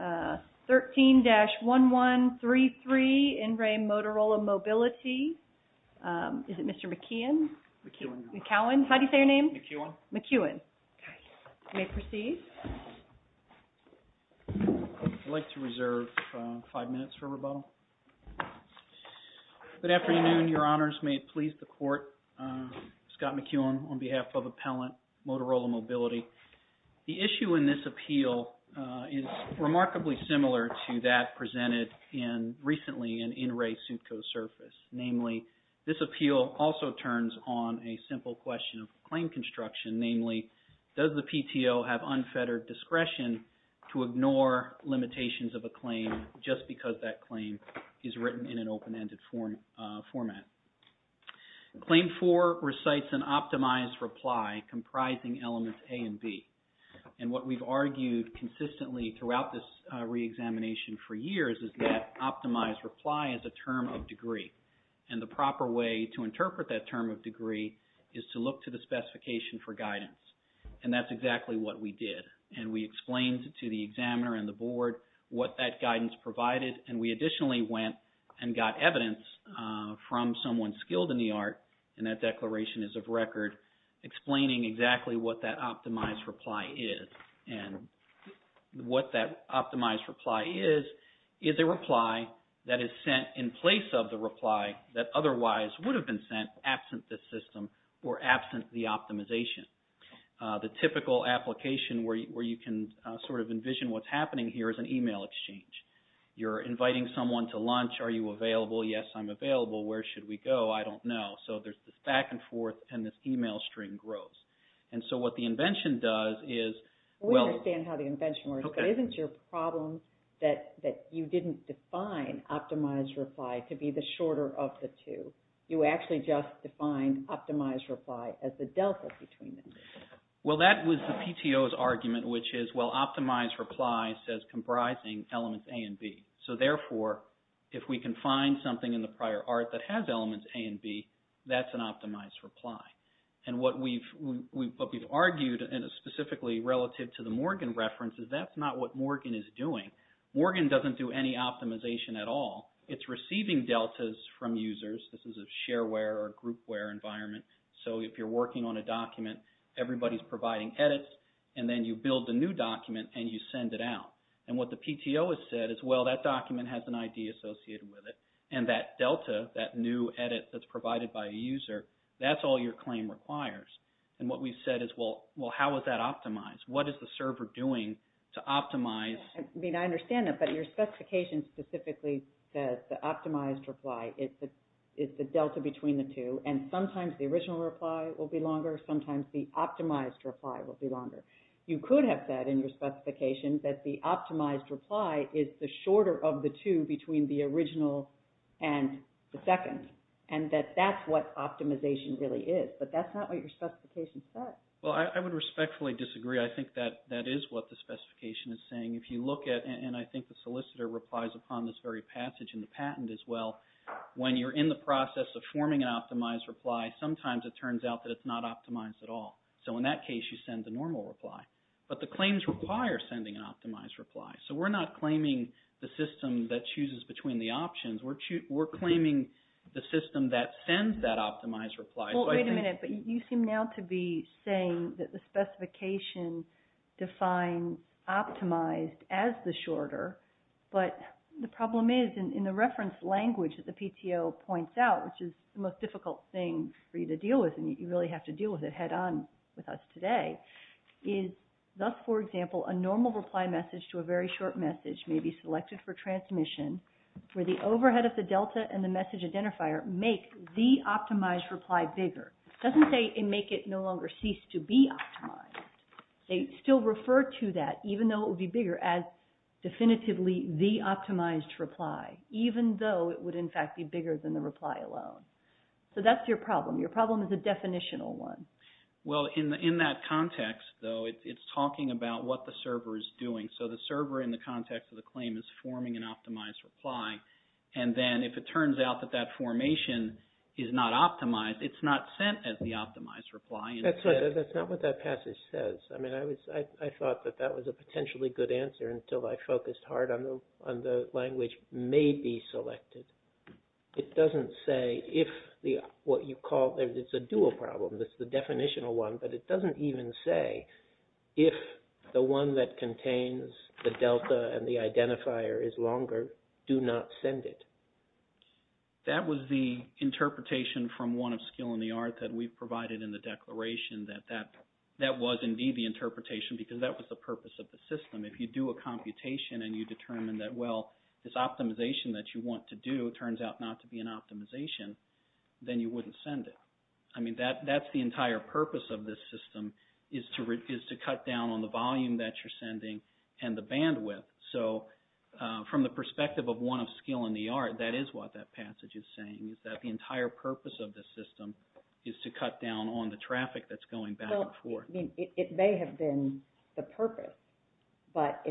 13-1133 N. RE. MOTOROLA MOBILITY. Is it Mr. McKeown? McKeown. How do you say your name? McKeown. Okay. You may proceed. I'd like to reserve five minutes for rebuttal. Good afternoon, Your Honors. May it please the Court. Scott McKeown on behalf of Appellant 13-1133 N. RE. MOTOROLA MOBILITY. The issue in this appeal is remarkably similar to that presented recently in N. RE. SUTCO's surface. Namely, this appeal also turns on a simple question of claim construction. Namely, does the PTO have unfettered discretion to ignore limitations of a claim just because that claim is written in an open-ended format? Claim four recites an optimized reply comprising elements A and B. And what we've argued consistently throughout this reexamination for years is that optimized reply is a term of degree. And the proper way to interpret that term of degree is to look to the specification for guidance. And that's exactly what we did. And we explained to the examiner and the board what that guidance provided. And we additionally went and got evidence from someone skilled in the art, and that declaration is of record, explaining exactly what that optimized reply is. And what that optimized reply is, is a reply that is sent in place of the reply that otherwise would have been sent absent the system or absent the optimization. The typical application where you can sort of envision what's happening here is an email exchange. You're inviting someone to lunch. Are you available? Yes, I'm available. Where should we go? I don't know. So there's this back and forth, and this email string grows. And so what the invention does is... We understand how the invention works, but isn't your problem that you didn't define optimized reply to be the shorter of the two? You actually just defined optimized reply as the delta between them. Well, that was the PTO's argument, which is, well, optimized reply says comprising elements A and B. So therefore, if we can find something in the prior art that has elements A and B, that's an optimized reply. And what we've argued specifically relative to the Morgan reference is that's not what Morgan is doing. Morgan doesn't do any optimization at all. It's receiving deltas from users. This is a shareware or groupware environment. So if you're working on a document, everybody's providing edits, and then you build a new document, and you send it out. And what the PTO has said is, well, that document has an ID associated with it, and that delta, that new edit that's provided by a user, that's all your claim requires. And what we've said is, well, how is that optimized? What is the server doing to optimize... I mean, I understand that, but your specification specifically says the optimized reply is the shorter of the two between the original and the second, and that that's what optimization really is. But that's not what your specification says. Well, I would respectfully disagree. I think that that is what the specification is saying. If you look at, and I think the solicitor replies upon this very passage in the patent as well, when you're in the process of forming an optimized reply, sometimes it turns out that it's not optimized at all. So in that case, you send the normal reply. But the claims require sending an optimized reply. So we're not claiming the system that chooses between the options. We're claiming the system that sends that optimized reply. Well, wait a minute. But you seem now to be saying that the specification defines optimized as the shorter. But the problem is, in the reference language that the PTO points out, which is the most difficult thing for you to deal with, and you really have to deal with it head on with us today, is thus, for example, a normal reply message to a very short message may be selected for transmission, where the overhead of the delta and the message identifier make the optimized reply bigger. It doesn't say make it no longer cease to be optimized. They still refer to that, even though it would be bigger, as definitively the optimized reply, even though it would, in fact, be bigger than the reply alone. So that's your problem. Your problem is a definitional one. Well, in that context, though, it's talking about what the server is doing. So the server in the context of the claim is forming an optimized reply. And then if it turns out that that formation is not optimized, it's not sent as the optimized reply. That's not what that passage says. I mean, I thought that that was a potentially good answer until I focused hard on the language may be selected. It doesn't say if what you call, it's a dual problem. It's the definitional one. But it doesn't even say if the one that contains the delta and the identifier is longer, do not send it. That was the interpretation from one of skill in the art that we've provided in the declaration that that was indeed the interpretation because that was the purpose of the system. If you do a computation and you determine that, well, this optimization that you want to do turns out not to be an optimization, then you wouldn't send it. I mean, that's the entire purpose of this system is to cut down on the volume that you're sending and the bandwidth. So from the perspective of one of skill in the art, that is what that passage is saying, is that the entire purpose of the system is to cut down on the traffic that's going back and forth. Well, I mean, it may have been the purpose, but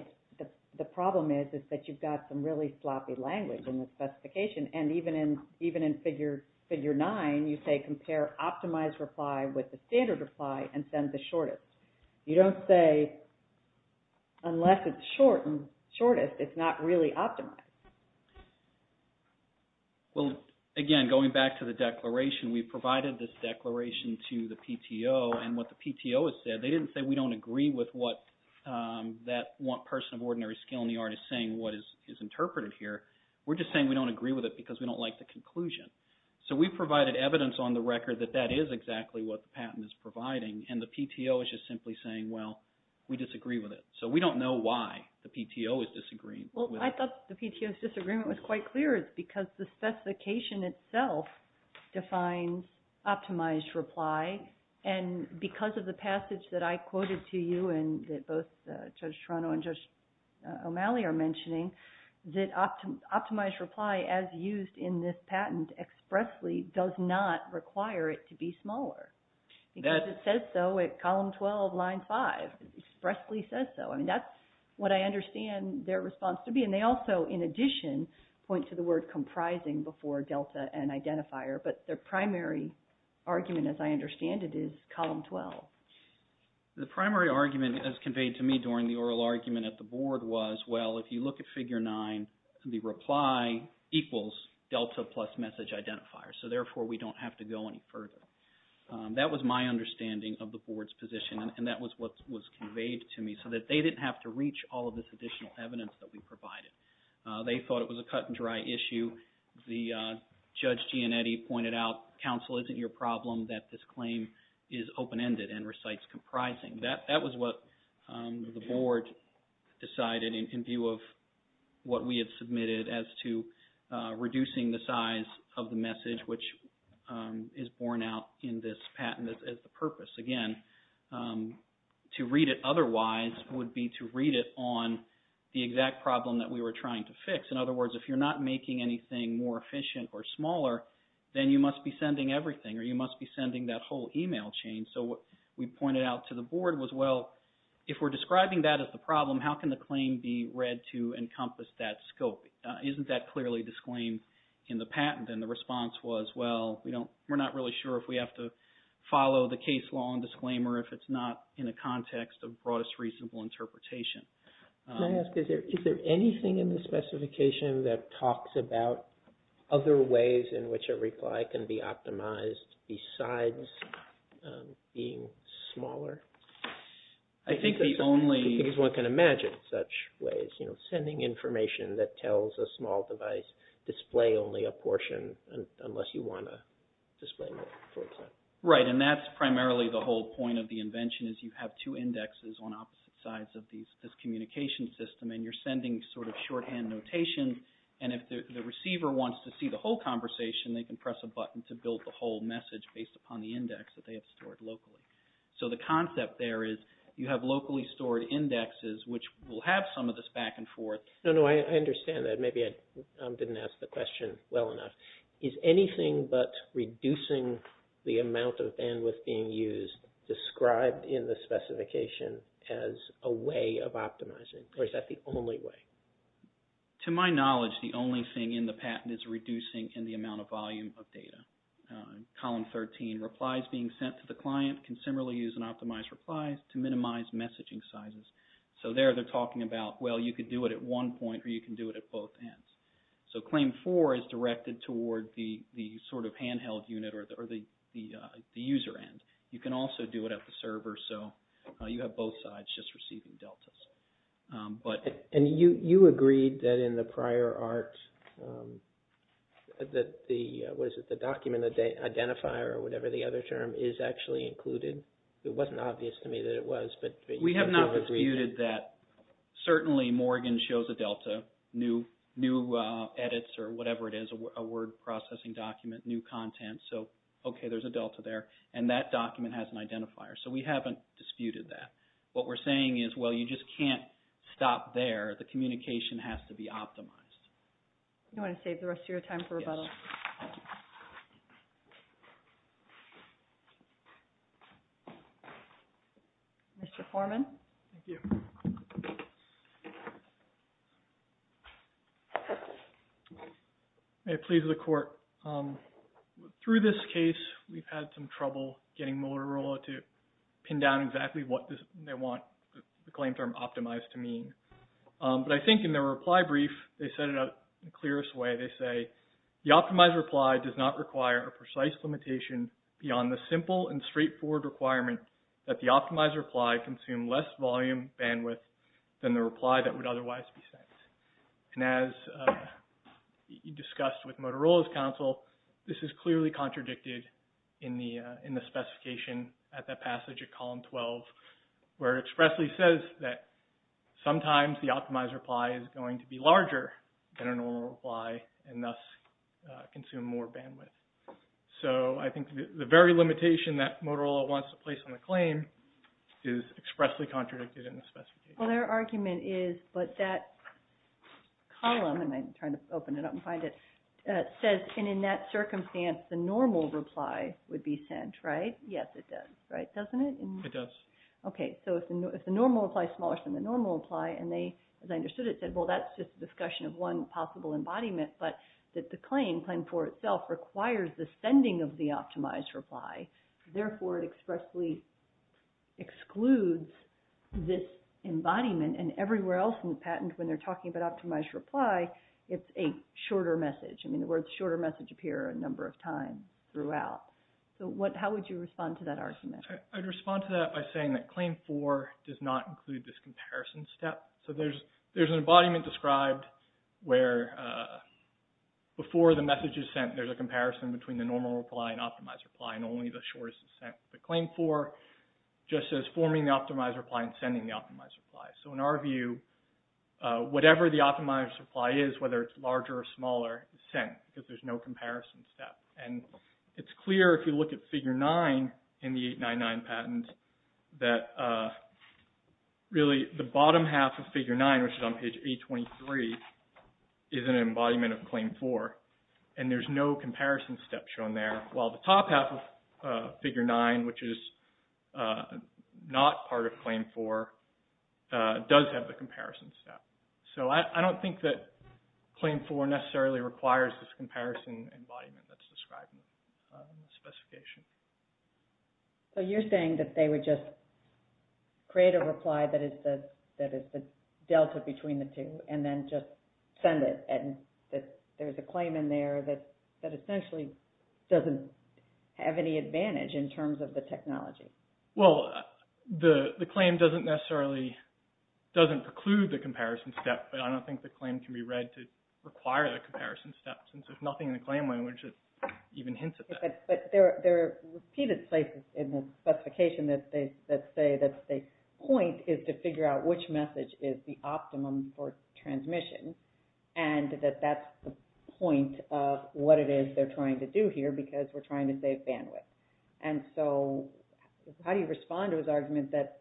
the problem is that you've got some really sloppy language in the specification. And even in figure 9, you say compare optimized reply with the standard reply and send the shortest. You don't say, unless it's shortest, it's not really optimized. Well, again, going back to the declaration, we provided this declaration to the PTO. And what the PTO has said, they didn't say we don't agree with what that person of ordinary skill in the art is saying what is interpreted here. We're just saying we don't agree with it because we don't like the conclusion. So we provided evidence on the record that that is exactly what the patent is providing. And the PTO is just simply saying, well, we disagree with it. So we don't know why the PTO is disagreeing. Well, I thought the PTO's disagreement was quite clear. It's because the specification itself defines optimized reply. And because of the passage that I quoted to you and that both Judge Toronto and Judge O'Malley are mentioning, that optimized reply as used in this patent expressly does not require it to be smaller. Because it says so at column 12, line 5. It expressly says so. I mean, that's what I understand their response to be. And they also, in addition, point to the word comprising before delta and identifier. But their primary argument, as I understand it, is column 12. The primary argument as conveyed to me during the oral argument at the board was, well, if you look at figure 9, the reply equals delta plus message identifier. So therefore, we don't have to go any further. That was my understanding of the board's position. And that was what was conveyed to me so that they didn't have to reach all of this additional evidence that we provided. They thought it was a cut and dry issue. The Judge Gianetti pointed out, counsel, isn't your problem that this claim is open-ended and recites comprising. That was what the board decided in view of what we had submitted as to reducing the size of the message, which is borne out in this patent as the purpose. Again, to read it otherwise would be to read it on the exact problem that we were trying to fix. In other words, if you're not making anything more efficient or smaller, then you must be sending everything or you must be sending that whole email chain. So what we pointed out to the board was, well, if we're describing that as the problem, how can the claim be read to encompass that scope? Isn't that clearly disclaimed in the patent? And the response was, well, we're not really sure if we have to follow the case law and disclaimer if it's not in a context of broadest reasonable interpretation. Can I ask, is there anything in the specification that talks about other ways in which a reply can be optimized besides being smaller? I think the only... Because one can imagine such ways, you know, sending information that tells a small device display only a portion unless you want to display more. Right, and that's primarily the whole point of the invention is you have two indexes on opposite sides of this communication system and you're sending sort of shorthand notations and if the receiver wants to see the whole conversation, they can press a button to build the whole message based upon the index that they have stored locally. So the concept there is you have locally stored indexes which will have some of this back and forth. No, no, I understand that. Maybe I didn't ask the question well enough. Is anything but reducing the amount of bandwidth being used described in the specification as a way of optimizing or is that the only way? To my knowledge, the only thing in the patent is reducing in the amount of volume of data. Column 13, replies being sent to the client can similarly use an optimized reply to minimize messaging sizes. So there they're talking about, well, you could do it at one point or you can do it at both ends. So claim four is directed toward the sort of handheld unit or the user end. You can also do it at the server. So you have both sides just receiving deltas. And you agreed that in the prior art that the document identifier or whatever the other term is actually included? It wasn't obvious to me that it was. We have not disputed that. Certainly, Morgan shows a delta, new edits or whatever it is, a word processing document, new content. So, okay, there's a delta there and that document has an identifier. So we haven't disputed that. What we're saying is, well, you just can't stop there. The communication has to be optimized. You want to save the rest of your time for rebuttal? Yes. Mr. Foreman? Thank you. May it please the Court. Through this case, we've had some trouble getting Motorola to pin down exactly what they want the claim term optimized to mean. But I think in their reply brief, they said it in the clearest way. They say, the optimized reply does not require a precise limitation beyond the simple and straightforward requirement that the optimized reply consume less volume bandwidth than the reply that would otherwise be sent. And as you discussed with Motorola's counsel, this is clearly contradicted in the specification at that passage at column 12, where it expressly says that sometimes the optimized reply is going to be larger than a normal reply and thus consume more bandwidth. So I think the very limitation that Motorola wants to place on the claim is expressly contradicted in the specification. Well, their argument is, but that column, and I'm trying to open it up and find it, says, and in that circumstance, the normal reply would be sent, right? Yes, it does, right? Doesn't it? It does. Okay. So if the normal reply is smaller than the normal reply, and they, as I understood it, said, well, that's just a discussion of one possible embodiment, but that the claim, claim four itself, requires the sending of the optimized reply. Therefore, it expressly excludes this embodiment. And everywhere else in the patent, when they're talking about optimized reply, it's a shorter message. I mean, the words shorter message appear a number of times throughout. So what, how would you respond to that argument? I'd respond to that by saying that claim four does not include this comparison step. So there's, there's an embodiment described where before the message is sent, there's a comparison between the normal reply and optimized reply, and only the shortest is sent with the claim four, just as forming the optimized reply and sending the optimized reply. So in our view, whatever the optimized reply is, whether it's larger or smaller, is sent, because there's no comparison step. And it's clear if you look at figure nine in the 899 patent, that really the bottom half of figure nine, which is on page 823, is an embodiment of claim four. And there's no comparison step shown there, while the top half of figure nine, which is not part of claim four, does have the comparison step. So I don't think that claim four necessarily requires this comparison embodiment that's described in the specification. So you're saying that they would just create a reply that is the, that is the delta between the two, and then just send it, and that there's a claim in there that, that essentially doesn't have any advantage in terms of the technology. Well, the, the claim doesn't necessarily, doesn't preclude the comparison step, but I don't think the claim can be read to require the comparison step, since there's nothing in the claim language that even hints at that. But there, there are repeated places in the specification that they, that say that the point is to figure out which message is the optimum for transmission, and that that's the point of what it is they're trying to do here, because we're trying to save bandwidth. And so how do you respond to his argument that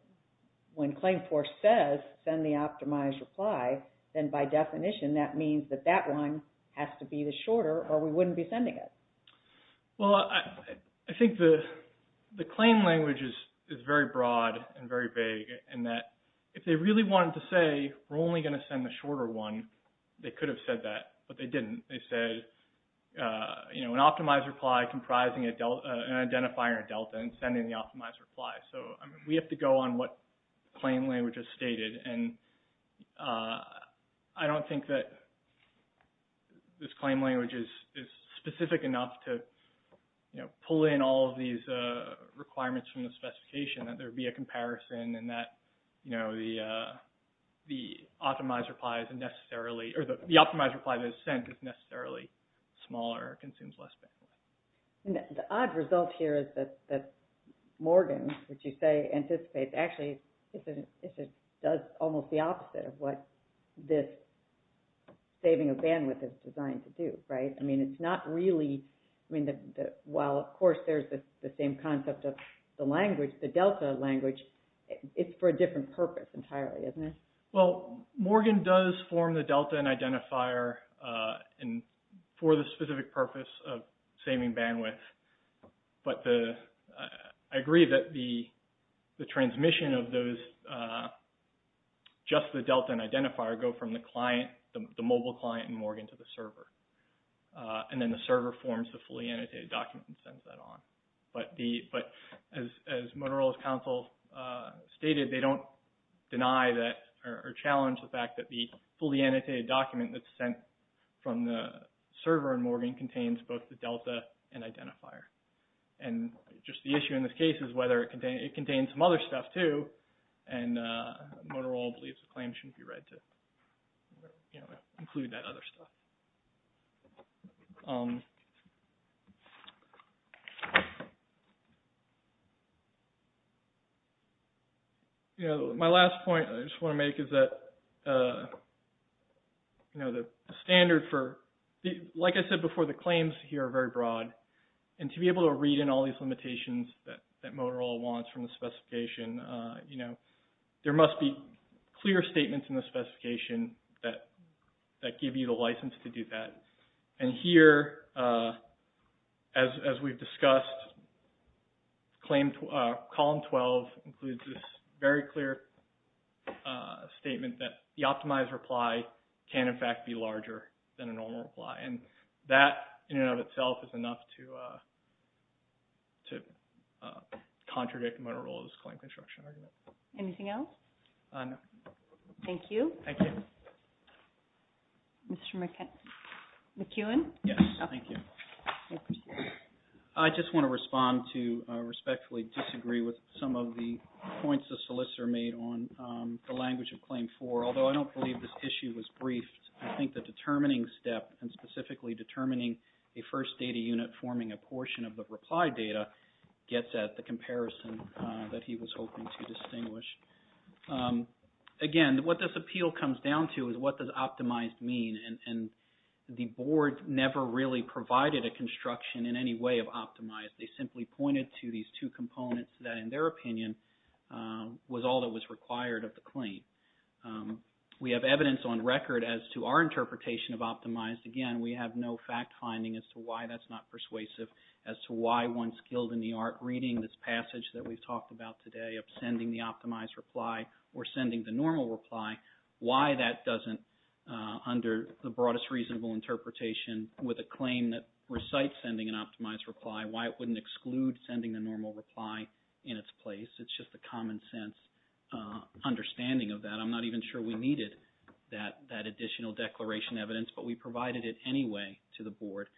when claim four says, send the optimized reply, then by definition that means that that one has to be the shorter, or we wouldn't be sending it? Well, I, I think the, the claim language is, is very broad, and very vague, and that if they really wanted to say, we're only going to send the shorter one, they could have said that, but they didn't. They said, you know, an optimized reply comprising a delta, an identifier delta, and sending the optimized reply. So, I mean, we have to go on what claim language is stated, and I don't think that this claim language is, is specific enough to, you know, pull in all of these requirements from the specification, that there be a comparison, and that, you know, the, the optimized replies are necessarily, or the optimized reply that is sent is necessarily smaller, consumes less bandwidth. And the odd result here is that, that Morgan, which you say anticipates, actually, if it, does almost the opposite of what this saving of bandwidth is designed to do, right? I mean, it's not really, I mean, the, the, while, of course, there's the, the same concept of the language, the delta language, it's for a different purpose entirely, isn't it? Well, Morgan does form the delta and identifier, and for the specific purpose of saving bandwidth, but the, I agree that the, the transmission of those, just the delta and identifier go from the client, the mobile client in Morgan to the server. And then the server forms the fully annotated document and sends that on. But the, but as, as Motorola's counsel stated, they don't deny that, or challenge the fact that the fully annotated document that's sent from the server in Morgan contains both the delta and identifier. And just the issue in this case is whether it contains, it contains some other stuff too, and Motorola believes the claim shouldn't be read to, you know, include that other stuff. You know, my last point I just want to make is that, you know, the standard for, like I said before, the claims here are very broad. And to be able to read in all these limitations that, that Motorola wants from the specification, you know, there must be clear statements in the specification that, that give you the license to do that. And here, as, as we've discussed, claim, column 12 includes this very clear statement that the optimized reply can, in fact, be larger than a normal reply. And that, in and of itself, is enough to, to contradict Motorola's claim construction argument. Anything else? No. Thank you. Thank you. Mr. McKeown? Yes. Thank you. I just want to respond to respectfully disagree with some of the points the solicitor made on the language of claim four. Although I don't believe this issue was briefed, I think the determining step, and specifically determining a first data unit forming a portion of the reply data, gets at the comparison that he was hoping to distinguish. Again, what this appeal comes down to is what does optimized mean? And, and the board never really provided a construction in any way of optimized. They simply pointed to these two components that, in their opinion, was all that was required of the claim. We have evidence on record as to our interpretation of optimized. Again, we have no fact finding as to why that's not persuasive, as to why one's skilled in the art reading this passage that we've talked about today of sending the optimized reply or sending the normal reply, why that doesn't, under the broadest reasonable interpretation with a claim that recites sending an optimized reply, why it wouldn't exclude sending the normal reply in its place. It's just a common sense understanding of that. I'm not even sure we needed that additional declaration evidence, but we provided it anyway to the board.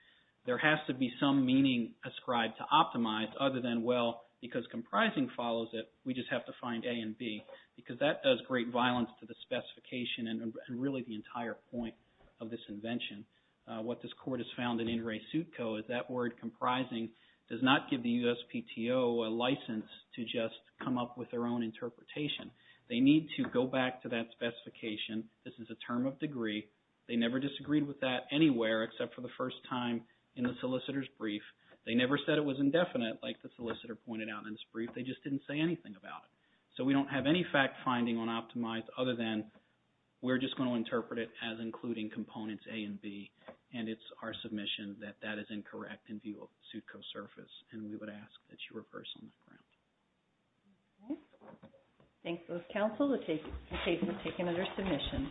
There has to be some meaning ascribed to optimized other than, well, because comprising follows it, we just have to find A and B, because that does great violence to the specification and really the entire point of this invention. What this court has found in In Re Sut Co is that word comprising does not give the USPTO a license to just come up with their own interpretation. They need to go back to that specification. This is a term of degree. They never disagreed with that anywhere except for the first time in the solicitor's brief. They never said it was indefinite like the solicitor pointed out in this brief. They just didn't say anything about it. So we don't have any fact finding on optimized other than we're just going to interpret it as including components A and B, and it's our submission that that is incorrect in view of Sutco surface, and we would ask that you reverse on that ground. Okay. Thanks, both counsel. The case will take another submission.